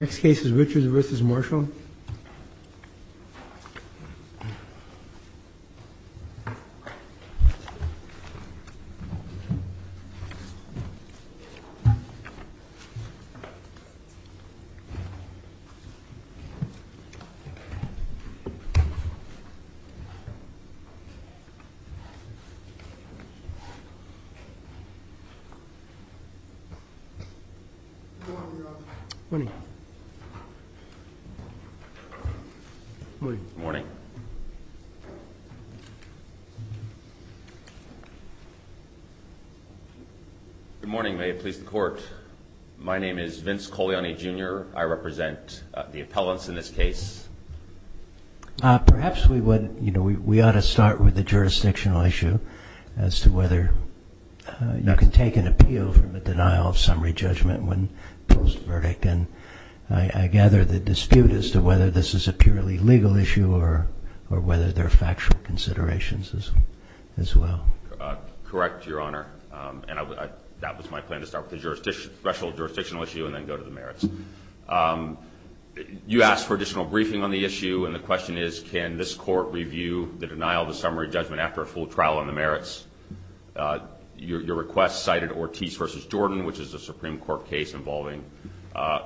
Next case is Richards v. Marshall Good morning. Good morning. May it please the court. My name is Vince Coliani Jr. I represent the appellants in this case. Perhaps we would, you know, we ought to start with the jurisdictional issue as to whether you can take an appeal from a denial of summary judgment when posed a verdict. And I gather the dispute as to whether this is a purely legal issue or whether there are factual considerations as well. Correct, Your Honor. And that was my plan to start with the special jurisdictional issue and then go to the merits. You asked for additional briefing on the issue and the question is can this court review the denial of the summary judgment after a full trial on the merits? Your request cited Ortiz v. Jordan, which is a Supreme Court case involving a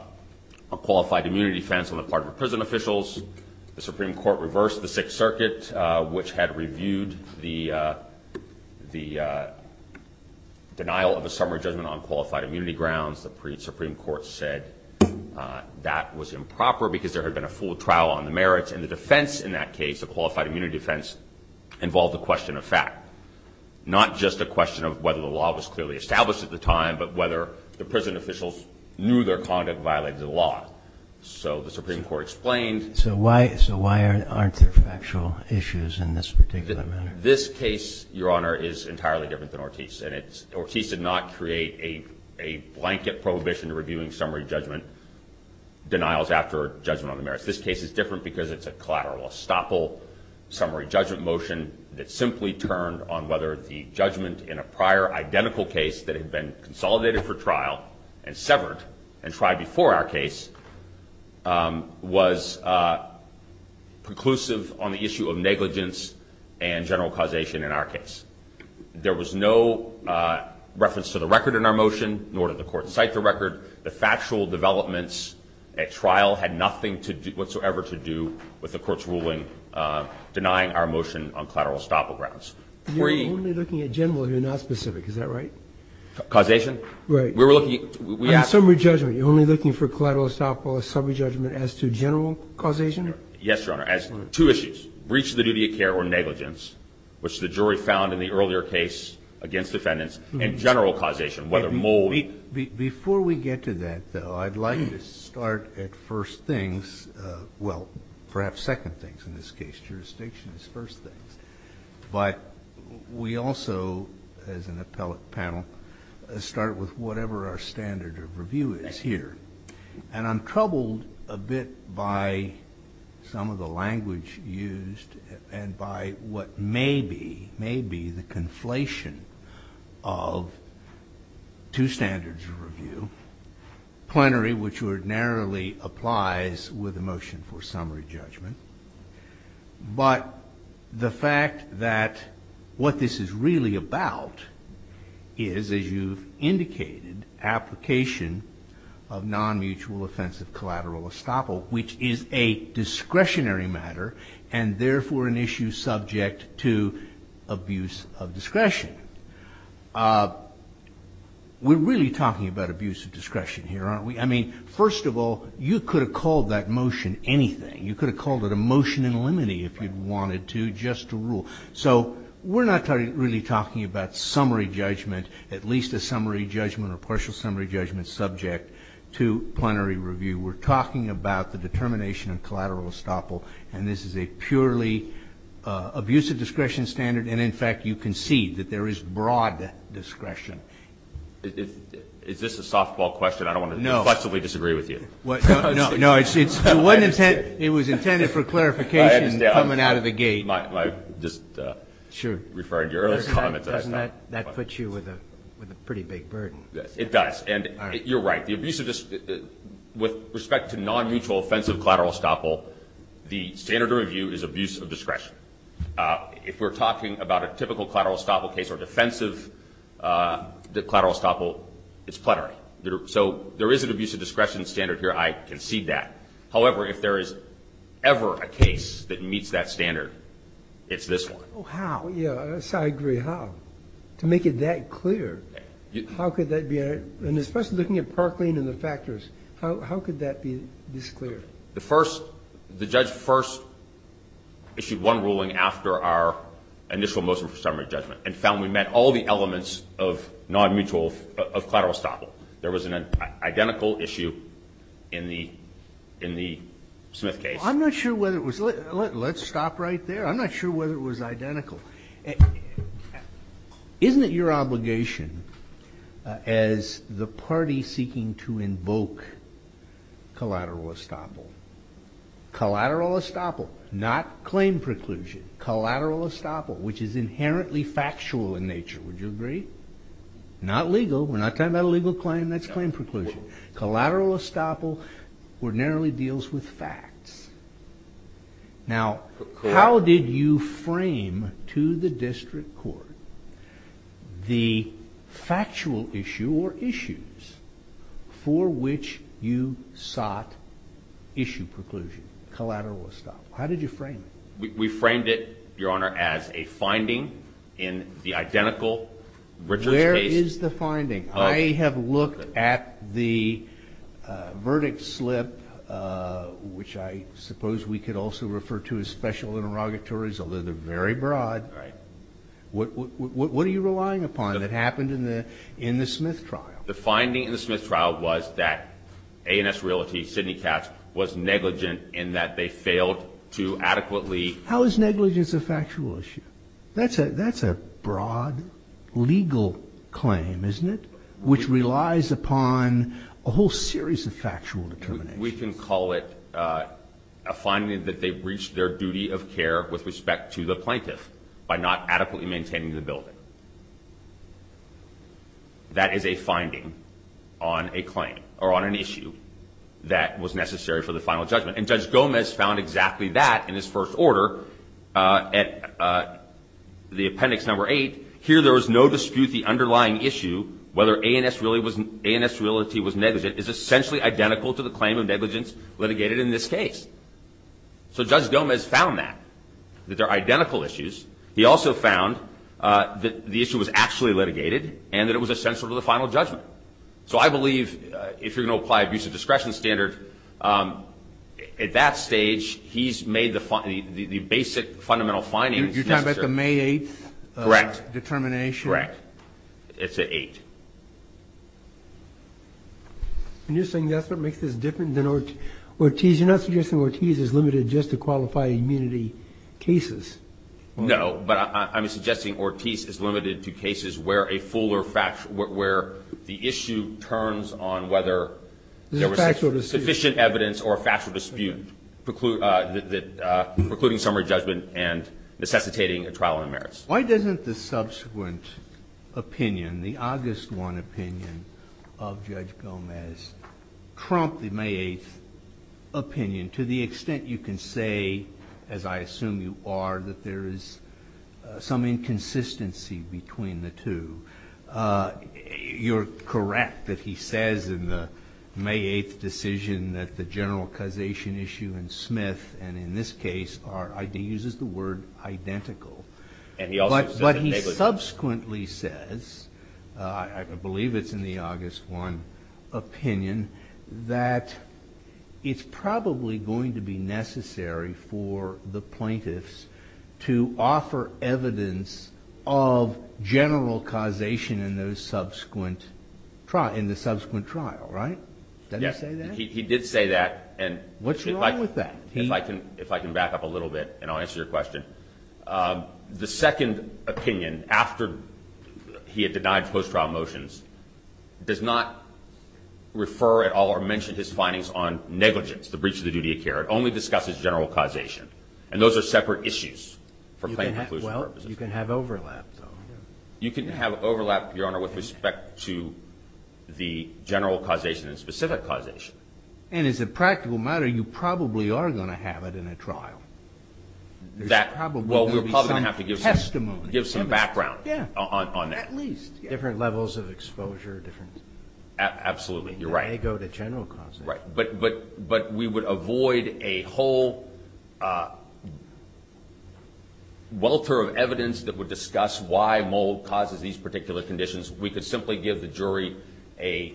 qualified immunity defense on the part of the prison officials. The Supreme Court reversed the Sixth Circuit, which had reviewed the denial of a summary judgment on qualified immunity grounds. The pre-Supreme Court said that was improper because there had been a full trial on the merits. And the defense in that case, a qualified immunity defense, involved a question of fact. Not just a question of whether the law was clearly established at the time, but whether the prison officials knew their conduct violated the law. So the Supreme Court explained So why aren't there factual issues in this particular matter? This case, Your Honor, is entirely different than Ortiz. And Ortiz did not create a blanket prohibition reviewing summary judgment denials after judgment on the merits. This case is a collateral estoppel summary judgment motion that simply turned on whether the judgment in a prior identical case that had been consolidated for trial and severed and tried before our case was conclusive on the issue of negligence and general causation in our case. There was no reference to the record in our motion, nor did the court cite the record. The factual developments at trial had nothing whatsoever to do with the court's ruling denying our motion on collateral estoppel grounds. You're only looking at general. You're not specific. Is that right? Causation? Right. We were looking at summary judgment. You're only looking for collateral estoppel or summary judgment as to general causation? Yes, Your Honor, as to two issues, breach of the duty of care or negligence, which the jury found in the earlier case against defendants, and general causation, whether more or less. Before we get to that, though, I'd like to start at first things. Well, perhaps second things in this case. Jurisdiction is first things. But we also, as an appellate panel, start with whatever our standard of review is here. And I'm troubled a bit by some of the language used and by what may be, may be, the conflation of two standards of review. Plenary, which ordinarily applies with a motion for summary judgment. But the fact that what this is really about is, as you've indicated, application of non-mutual offensive collateral estoppel, which is a discretionary matter, and therefore an issue subject to abuse of discretion. We're really talking about abuse of discretion here, aren't we? I mean, first of all, you could have called that motion anything. You could have called it a motion in limine, if you'd wanted to, just to rule. So we're not really talking about summary judgment, at least a summary judgment or partial summary judgment subject to plenary review. We're talking about the determination of collateral estoppel. And this is a purely abusive discretion standard. And, in fact, you can see that there is broad discretion. Is this a softball question? I don't want to reflexively disagree with you. No, it was intended for clarification coming out of the gate. Sure. Doesn't that put you with a pretty big burden? It does. And you're right. With respect to non-mutual offensive collateral estoppel, the standard of review is abuse of discretion. If we're talking about a typical collateral estoppel case or defensive collateral estoppel, it's plenary. So there is an abuse of discretion standard here. I concede that. However, if there is ever a case that meets that standard, it's this one. Oh, how? Yes, I agree. How? To make it that clear, how could that be? And especially looking at Parkland and the factors, how could that be this clear? The judge first issued one ruling after our initial motion for summary judgment and found we met all the elements of non-mutual of collateral estoppel. There was an identical issue in the Smith case. I'm not sure whether it was. Let's stop right there. I'm not sure whether it was identical. Isn't it your obligation as the party seeking to invoke collateral estoppel? Collateral estoppel, not claim preclusion. Collateral estoppel, which is inherently factual in nature. Would you agree? Not legal. We're not talking about a legal claim. That's claim preclusion. Collateral estoppel ordinarily deals with facts. Now, how did you frame to the district court the factual issue or issues for which you sought issue preclusion? Collateral estoppel. How did you frame it? We framed it, Your Honor, as a finding in the identical Richards case. Where is the finding? I have looked at the verdict slip, which I suppose we could also refer to as special interrogatories, although they're very broad. Right. What are you relying upon that happened in the Smith trial? The finding in the Smith trial was that A&S Realty, Sidney Katz, was negligent in that they failed to adequately How is negligence a factual issue? That's a broad legal claim, isn't it? Which relies upon a whole series of factual determinations. We can call it a finding that they breached their duty of care with respect to the plaintiff by not adequately maintaining the building. That is a finding on a claim or on an issue that was necessary for the final judgment. And Judge Gomez found exactly that in his first order at the appendix number eight. Here there was no dispute the underlying issue, whether A&S Realty was negligent, is essentially identical to the claim of negligence litigated in this case. So Judge Gomez found that, that they're identical issues. He also found that the issue was actually litigated and that it was essential to the final judgment. So I believe if you're going to apply abuse of discretion standard, at that stage he's made the basic fundamental findings. You're talking about the May 8th determination? Correct. It's at 8. And you're saying that's what makes this different than Ortiz? You're not suggesting Ortiz is limited just to qualified immunity cases? No. But I'm suggesting Ortiz is limited to cases where a fuller fact or where the issue turns on whether there was sufficient evidence or a factual dispute precluding summary judgment and necessitating a trial on the merits. Why doesn't the subsequent opinion, the August 1 opinion of Judge Gomez, trump the May 8th opinion to the extent you can say, as I assume you are, that there is some inconsistency between the two? You're correct that he says in the May 8th decision that the general causation issue in Smith and in this case R.I.D. uses the word identical. But he subsequently says, I believe it's in the August 1 opinion, that it's probably going to be necessary for the plaintiffs to offer evidence of general causation in the subsequent trial, right? Did he say that? He did say that. What's wrong with that? If I can back up a little bit and I'll answer your question. The second opinion, after he had denied post-trial motions, does not refer at all or mention his findings on negligence, the breach of the duty of care. It only discusses general causation. And those are separate issues for claim conclusion purposes. Well, you can have overlap, though. You can have overlap, Your Honor, with respect to the general causation and specific causation. And as a practical matter, you probably are going to have it in a trial. Well, we're probably going to have to give some background on that. At least. Different levels of exposure. Absolutely. You're right. And they go to general causation. Right. But we would avoid a whole welter of evidence that would discuss why Mould causes these particular conditions. We could simply give the jury a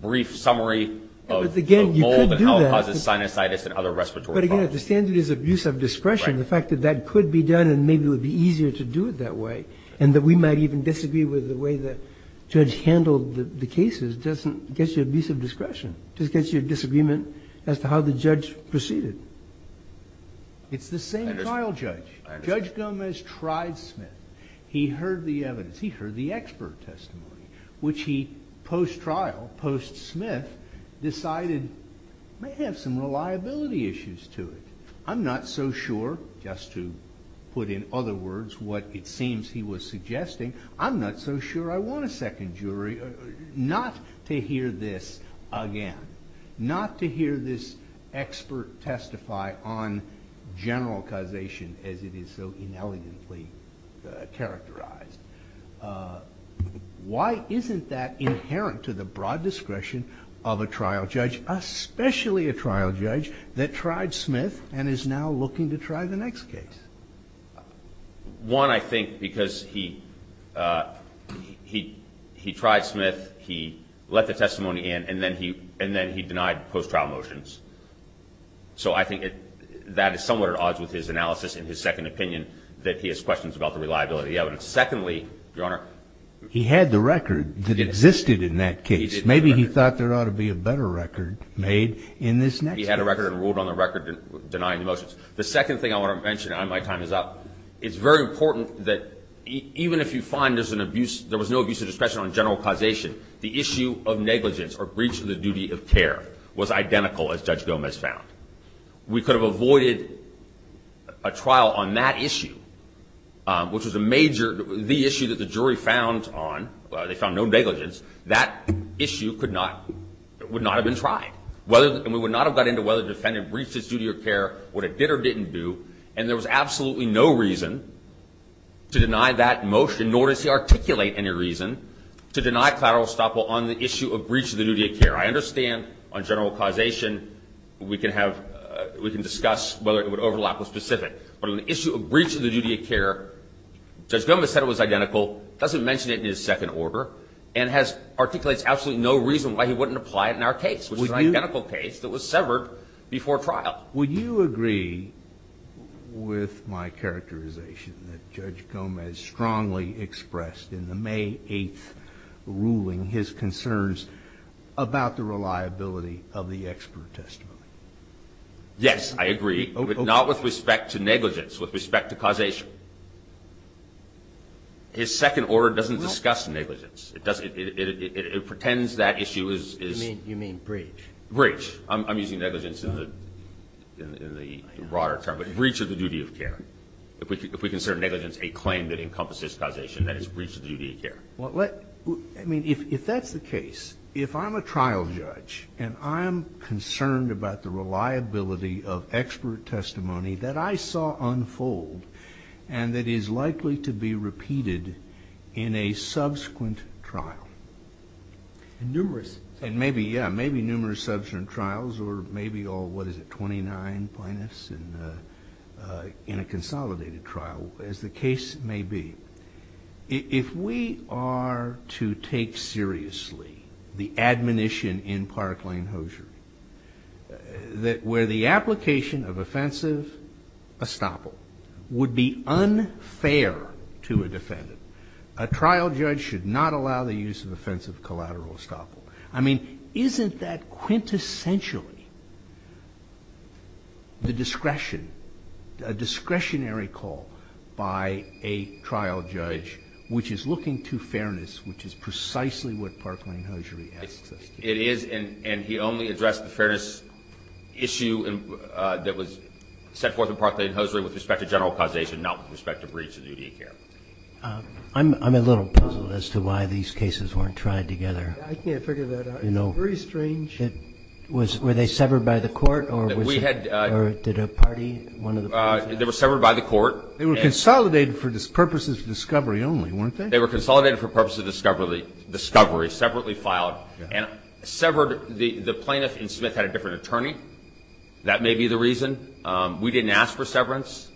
brief summary of Mould and how it causes sinusitis and other respiratory problems. But, again, the standard is abuse of discretion. The fact that that could be done and maybe it would be easier to do it that way, and that we might even disagree with the way the judge handled the cases doesn't get you abuse of discretion. It just gets you a disagreement as to how the judge proceeded. It's the same trial judge. Judge Gomez tried Smith. He heard the evidence. He heard the expert testimony, which he, post-trial, post-Smith, decided may have some reliability issues to it. I'm not so sure, just to put in other words what it seems he was suggesting, I'm not so sure I want a second jury not to hear this again, not to hear this expert testify on general causation as it is so inelegantly characterized. Why isn't that inherent to the broad discretion of a trial judge, especially a trial judge that tried Smith and is now looking to try the next case? One, I think, because he tried Smith. He let the testimony in. And then he denied post-trial motions. So I think that is somewhat at odds with his analysis and his second opinion, that he has questions about the reliability of the evidence. Secondly, Your Honor, he had the record that existed in that case. Maybe he thought there ought to be a better record made in this next case. He had a record and ruled on the record denying the motions. The second thing I want to mention, and my time is up, it's very important that even if you find there's an abuse, there was no abuse of discretion on general causation, the issue of negligence or breach of the duty of care was identical as Judge Gomez found. We could have avoided a trial on that issue, which was a major, the issue that the jury found on, they found no negligence. That issue could not, would not have been tried. And we would not have got into whether the defendant breached his duty of care, what it did or didn't do. And there was absolutely no reason to deny that motion, nor does he articulate any reason to deny collateral estoppel on the issue of breach of the duty of care. I understand on general causation we can have, we can discuss whether it would overlap with specific. But on the issue of breach of the duty of care, Judge Gomez said it was identical, doesn't mention it in his second order, and articulates absolutely no reason why he wouldn't apply it in our case, which is an identical case that was severed before trial. Would you agree with my characterization that Judge Gomez strongly expressed in the May 8th ruling his concerns about the reliability of the expert testimony? Yes, I agree, but not with respect to negligence, with respect to causation. His second order doesn't discuss negligence. It pretends that issue is. You mean breach? Breach. I'm using negligence in the broader term. But breach of the duty of care. If we consider negligence a claim that encompasses causation, that is breach of the duty of care. Well, let, I mean, if that's the case, if I'm a trial judge and I'm concerned about the reliability of expert testimony that I saw unfold and that is likely to be repeated in a subsequent trial. And numerous. And maybe, yeah, maybe numerous subsequent trials, or maybe all, what is it, 29 plaintiffs in a consolidated trial, as the case may be. If we are to take seriously the admonition in Parkland-Hosier that where the application of offensive estoppel would be unfair to a defendant, a trial judge should not allow the use of offensive collateral estoppel. I mean, isn't that quintessentially the discretion, a discretionary call by a trial judge which is looking to fairness, which is precisely what Parkland-Hosier asks us to do? It is, and he only addressed the fairness issue that was set forth in Parkland-Hosier with respect to general causation, not with respect to breach of duty of care. I'm a little puzzled as to why these cases weren't tried together. I can't figure that out. You know. It's very strange. Were they severed by the court or did a party, one of the parties? They were severed by the court. They were consolidated for purposes of discovery only, weren't they? They were consolidated for purposes of discovery, separately filed, and severed. The plaintiff in Smith had a different attorney. That may be the reason. We didn't ask for severance,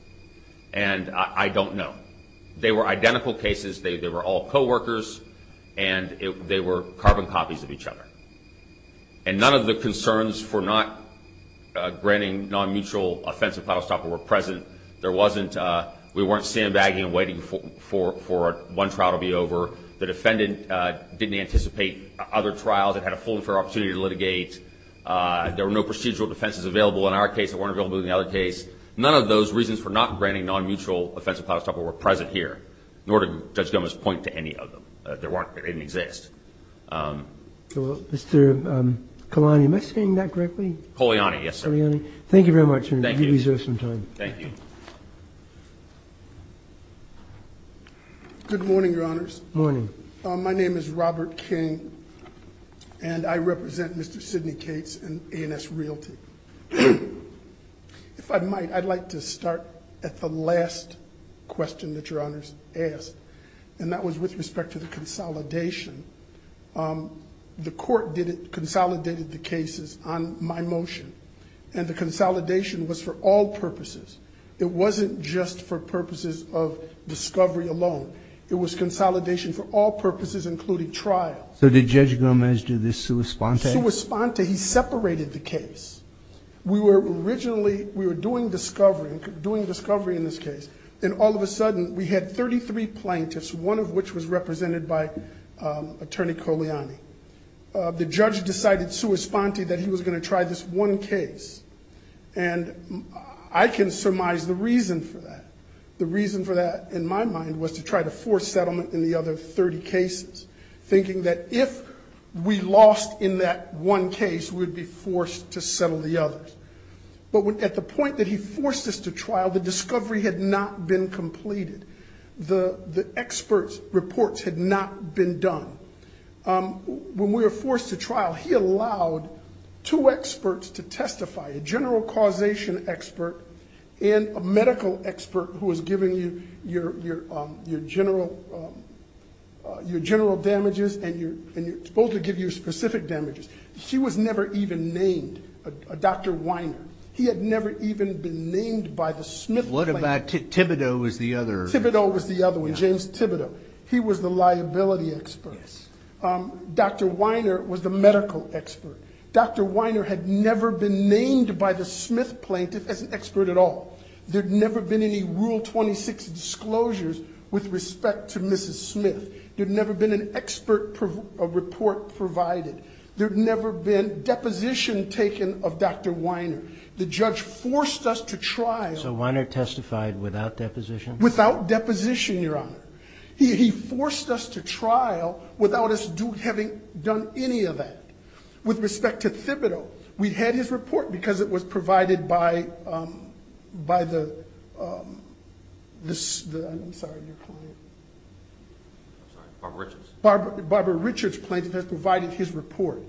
and I don't know. They were identical cases. They were all coworkers, and they were carbon copies of each other. And none of the concerns for not granting non-mutual offensive collateral estoppel were present. We weren't sandbagging and waiting for one trial to be over. The defendant didn't anticipate other trials. It had a full and fair opportunity to litigate. There were no procedural defenses available. In our case, they weren't available in the other case. None of those reasons for not granting non-mutual offensive collateral estoppel were present here, nor did Judge Gomez point to any of them. They didn't exist. Mr. Coliani, am I saying that correctly? Coliani, yes, sir. Thank you very much. Thank you. Thank you. Good morning, Your Honors. Morning. My name is Robert King, and I represent Mr. Sidney Cates and A&S Realty. If I might, I'd like to start at the last question that Your Honors asked, and that was with respect to the consolidation. The court consolidated the cases on my motion, and the consolidation was for all purposes. It wasn't just for purposes of discovery alone. It was consolidation for all purposes, including trial. So did Judge Gomez do this sua sponte? Sua sponte. He separated the case. We were originally doing discovery in this case, and all of a sudden we had 33 plaintiffs, one of which was represented by Attorney Coliani. The judge decided sua sponte that he was going to try this one case, and I can surmise the reason for that. The reason for that, in my mind, was to try to force settlement in the other 30 cases, thinking that if we lost in that one case, we would be forced to settle the others. But at the point that he forced us to trial, the discovery had not been completed. The experts' reports had not been done. When we were forced to trial, he allowed two experts to testify, a general causation expert and a medical expert who was giving you your general damages, and you're supposed to give you specific damages. She was never even named, Dr. Weiner. He had never even been named by the Smith plaintiff. What about Thibodeau was the other? Thibodeau was the other one, James Thibodeau. He was the liability expert. Dr. Weiner was the medical expert. Dr. Weiner had never been named by the Smith plaintiff as an expert at all. There had never been any Rule 26 disclosures with respect to Mrs. Smith. There had never been an expert report provided. There had never been deposition taken of Dr. Weiner. The judge forced us to trial. So Weiner testified without deposition? Without deposition, Your Honor. He forced us to trial without us having done any of that. With respect to Thibodeau, we had his report because it was provided by the, I'm sorry, your client. I'm sorry, Barbara Richards. Barbara Richards plaintiff has provided his report.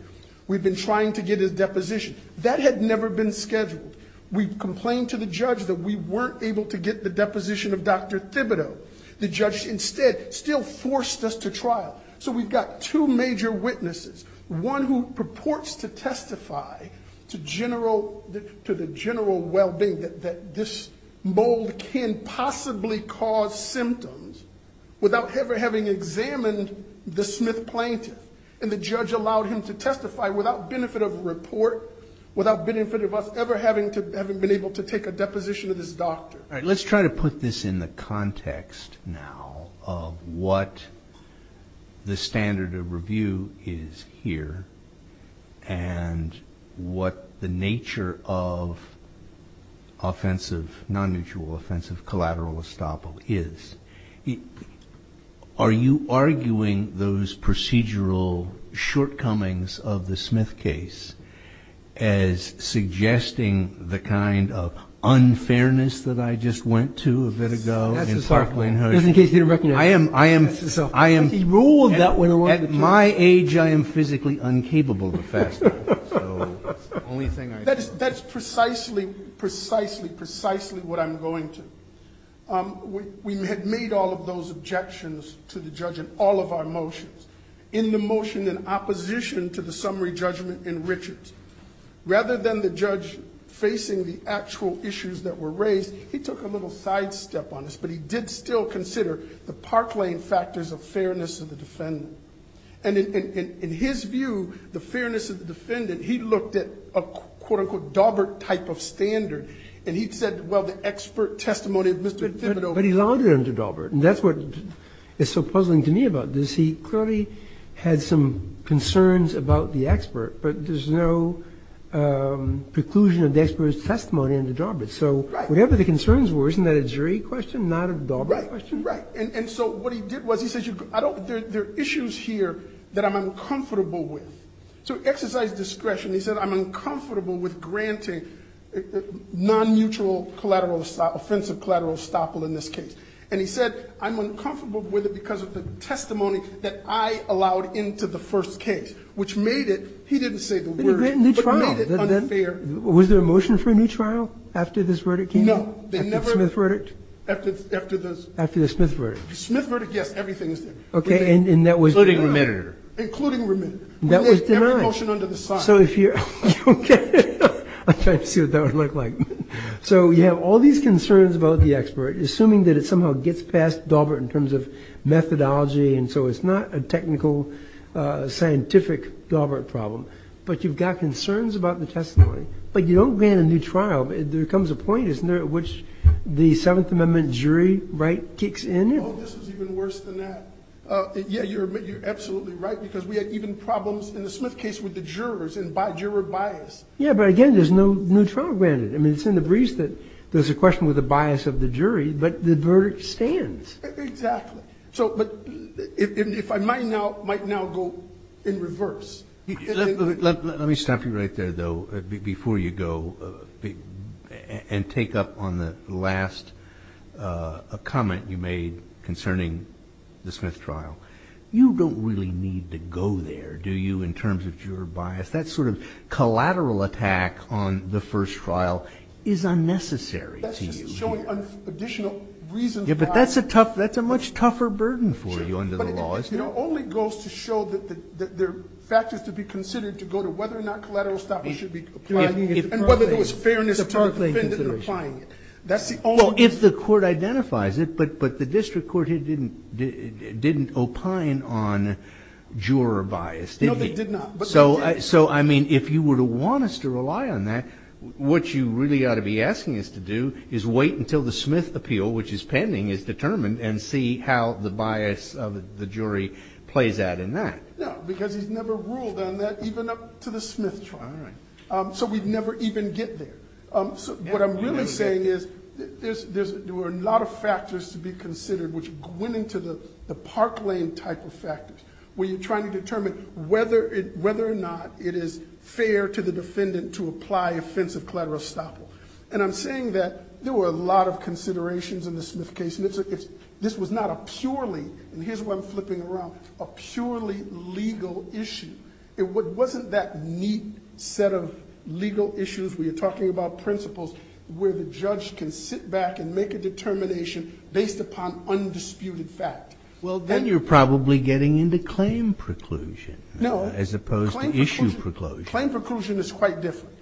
We've been trying to get his deposition. That had never been scheduled. We complained to the judge that we weren't able to get the deposition of Dr. Thibodeau. The judge instead still forced us to trial. So we've got two major witnesses, one who purports to testify to the general well-being that this mold can possibly cause symptoms without ever having examined the Smith plaintiff. And the judge allowed him to testify without benefit of report, without benefit of us ever having been able to take a deposition of this doctor. Let's try to put this in the context now of what the standard of review is here and what the nature of offensive, non-mutual offensive collateral estoppel is. Are you arguing those procedural shortcomings of the Smith case as suggesting the kind of unfairness that I just went to a bit ago? I am, I am, I am. He ruled that way. At my age, I am physically incapable to fast. That's precisely, precisely, precisely what I'm going to. We had made all of those objections to the judge in all of our motions, in the motion in opposition to the summary judgment in Richards. Rather than the judge facing the actual issues that were raised, he took a little sidestep on this, but he did still consider the park lane factors of fairness of the defendant. And in his view, the fairness of the defendant, he looked at a quote-unquote Daubert type of standard, and he said, well, the expert testimony of Mr. Thibodeau. But he lauded under Daubert, and that's what is so puzzling to me about this. He clearly had some concerns about the expert, but there's no preclusion of the expert's testimony under Daubert. Right. So whatever the concerns were, isn't that a jury question, not a Daubert question? Right, right. And so what he did was, he says, there are issues here that I'm uncomfortable with. So exercise discretion, he said, I'm uncomfortable with granting non-mutual, offensive collateral estoppel in this case. And he said, I'm uncomfortable with it because of the testimony that I allowed into the first case, which made it, he didn't say the word, but made it unfair. Was there a motion for a new trial after this verdict came out? No. After the Smith verdict? After the Smith verdict. The Smith verdict, yes, everything is there. Including remitter. Including remitter. That was denied. Every motion under the side. So if you're, okay. I'm trying to see what that would look like. So you have all these concerns about the expert, assuming that it somehow gets past Daubert in terms of methodology, and so it's not a technical, scientific Daubert problem. But you've got concerns about the testimony. But you don't grant a new trial. There comes a point, isn't there, at which the Seventh Amendment jury right kicks in? Oh, this is even worse than that. Yeah, you're absolutely right, because we had even problems in the Smith case with the jurors and by juror bias. Yeah, but, again, there's no new trial granted. I mean, it's in the breeze that there's a question with the bias of the jury, but the verdict stands. Exactly. So, but if I might now go in reverse. Let me stop you right there, though, before you go and take up on the last comment you made concerning the Smith trial. You don't really need to go there, do you, in terms of juror bias? That sort of collateral attack on the first trial is unnecessary to you here. That's just showing additional reasons why. Yeah, but that's a much tougher burden for you under the law. It only goes to show that there are factors to be considered to go to whether or not collateral stoppage should be applied and whether there was fairness to the defendant applying it. Well, if the court identifies it, but the district court didn't opine on juror bias, did it? No, they did not. So, I mean, if you were to want us to rely on that, what you really ought to be asking us to do is wait until the Smith appeal, which is pending, is determined and see how the bias of the jury plays out in that. No, because he's never ruled on that, even up to the Smith trial. All right. So we'd never even get there. So what I'm really saying is there were a lot of factors to be considered which went into the Park Lane type of factors, where you're trying to determine whether or not it is fair to the defendant to apply offensive collateral estoppel. And I'm saying that there were a lot of considerations in the Smith case. This was not a purely, and here's where I'm flipping around, a purely legal issue. It wasn't that neat set of legal issues where you're talking about principles where the judge can sit back and make a determination based upon undisputed fact. Well, then you're probably getting into claim preclusion as opposed to issue preclusion. No. Claim preclusion is quite different.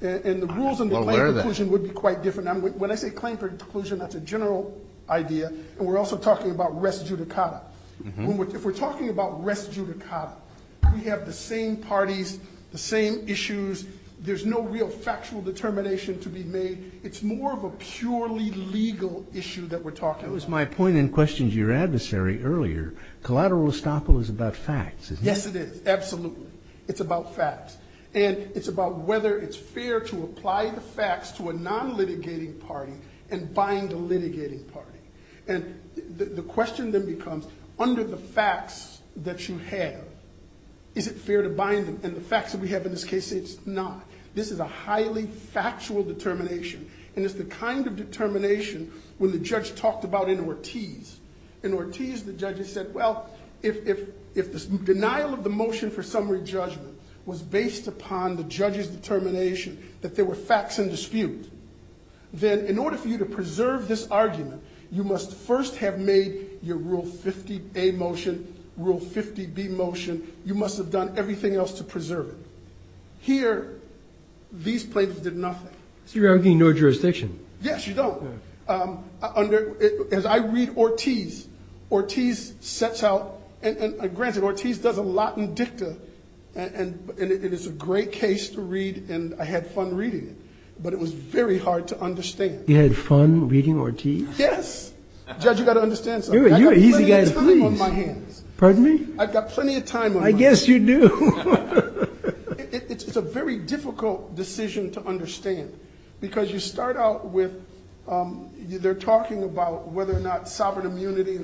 And the rules under claim preclusion would be quite different. When I say claim preclusion, that's a general idea, and we're also talking about res judicata. If we're talking about res judicata, we have the same parties, the same issues. There's no real factual determination to be made. It's more of a purely legal issue that we're talking about. That was my point in questions to your adversary earlier. Collateral estoppel is about facts, isn't it? Yes, it is. Absolutely. It's about facts. And it's about whether it's fair to apply the facts to a non-litigating party and bind a litigating party. And the question then becomes, under the facts that you have, is it fair to bind them? And the facts that we have in this case say it's not. This is a highly factual determination, and it's the kind of determination when the judge talked about in Ortiz. In Ortiz, the judges said, well, if the denial of the motion for summary judgment was based upon the judge's determination that there were facts in dispute, then in order for you to preserve this argument, you must first have made your Rule 50A motion, Rule 50B motion. You must have done everything else to preserve it. Here, these plaintiffs did nothing. So you're arguing no jurisdiction. Yes, you don't. As I read Ortiz, Ortiz sets out, and granted, Ortiz does a lot in dicta, and it is a great case to read, and I had fun reading it. But it was very hard to understand. You had fun reading Ortiz? Yes. Judge, you've got to understand something. I've got plenty of time on my hands. Pardon me? I've got plenty of time on my hands. I guess you do. It's a very difficult decision to understand because you start out with they're talking about whether or not sovereign immunity,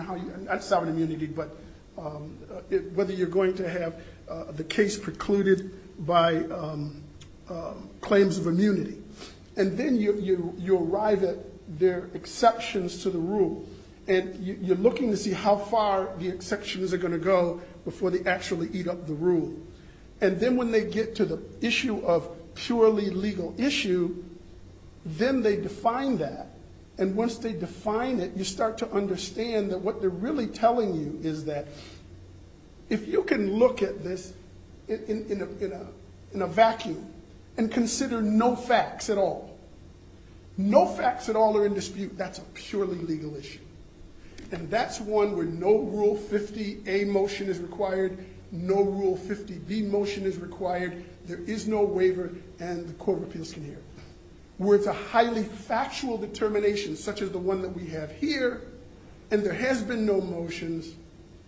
not sovereign immunity, but whether you're going to have the case precluded by claims of immunity. And then you arrive at their exceptions to the rule, and you're looking to see how far the exceptions are going to go before they actually eat up the rule. And then when they get to the issue of purely legal issue, then they define that, and once they define it, you start to understand that what they're really telling you is that if you can look at this in a vacuum and consider no facts at all, no facts at all are in dispute, that's a purely legal issue. And that's one where no Rule 50A motion is required, no Rule 50B motion is required, there is no waiver, and the Court of Appeals can hear. Where it's a highly factual determination, such as the one that we have here, and there has been no motions,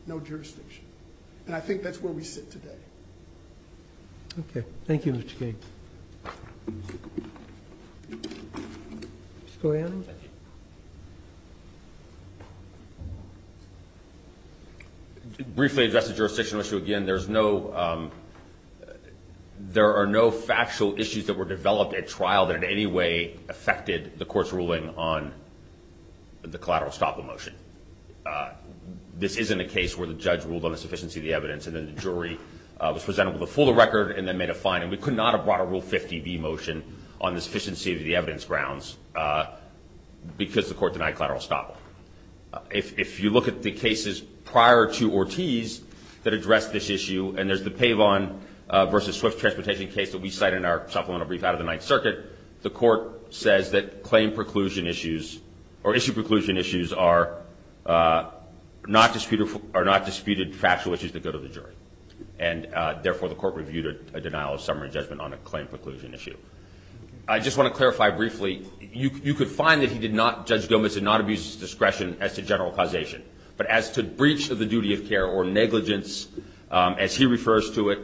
no jurisdiction. And I think that's where we sit today. Okay. Thank you, Mr. King. Mr. Koyani? Thank you. To briefly address the jurisdictional issue again, there are no factual issues that were developed at trial that in any way affected the Court's ruling on the collateral estoppel motion. This isn't a case where the judge ruled on the sufficiency of the evidence and then the jury was presented with a fuller record and then made a finding. We could not have brought a Rule 50B motion on the sufficiency of the evidence because the Court denied collateral estoppel. If you look at the cases prior to Ortiz that address this issue, and there's the Paveon v. Swift transportation case that we cite in our supplemental brief out of the Ninth Circuit, the Court says that claim preclusion issues or issue preclusion issues are not disputed factual issues that go to the jury. And therefore, the Court reviewed a denial of summary judgment on a claim preclusion issue. I just want to clarify briefly. You could find that Judge Gomez did not abuse his discretion as to general causation. But as to breach of the duty of care or negligence, as he refers to it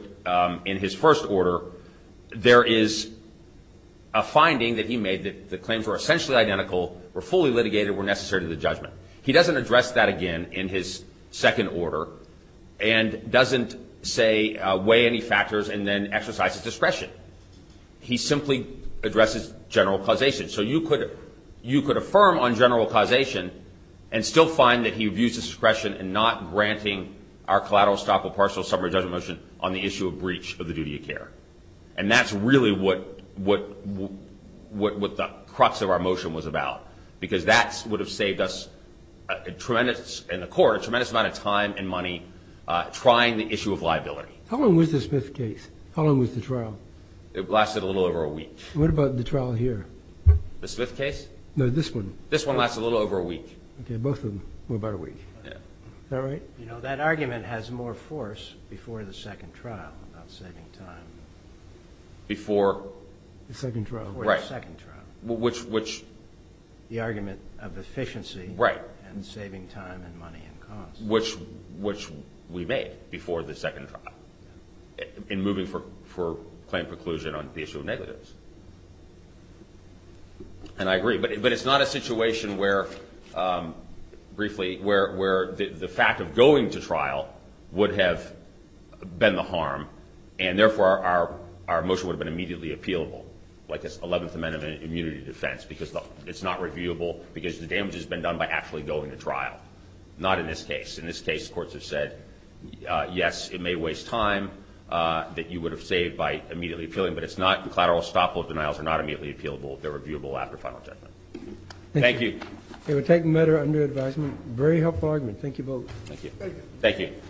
in his first order, there is a finding that he made that the claims were essentially identical, were fully litigated, were necessary to the judgment. He doesn't address that again in his second order and doesn't, say, weigh any factors and then exercise his discretion. He simply addresses general causation. So you could affirm on general causation and still find that he abused his discretion in not granting our collateral estoppel partial summary judgment motion on the issue of breach of the duty of care. And that's really what the crux of our motion was about, because that would have saved us in the Court a tremendous amount of time and money trying the issue of liability. How long was the Smith case? How long was the trial? It lasted a little over a week. What about the trial here? The Smith case? No, this one. This one lasted a little over a week. Okay, both of them were about a week. Yeah. Is that right? You know, that argument has more force before the second trial about saving time. Before? The second trial. Right. Before the second trial. Which? The argument of efficiency. Right. And saving time and money and cost. Which we made before the second trial in moving for claim preclusion on the issue of negatives. And I agree. But it's not a situation where, briefly, where the fact of going to trial would have been the harm, and therefore our motion would have been immediately appealable, like this 11th Amendment immunity defense, because it's not reviewable because the damage has been done by actually going to trial. Not in this case. In this case, courts have said, yes, it may waste time that you would have saved by immediately appealing, but it's not. Collateral stop vote denials are not immediately appealable. They're reviewable after final judgment. Thank you. Okay, we'll take the matter under advisement. Very helpful argument. Thank you both. Thank you.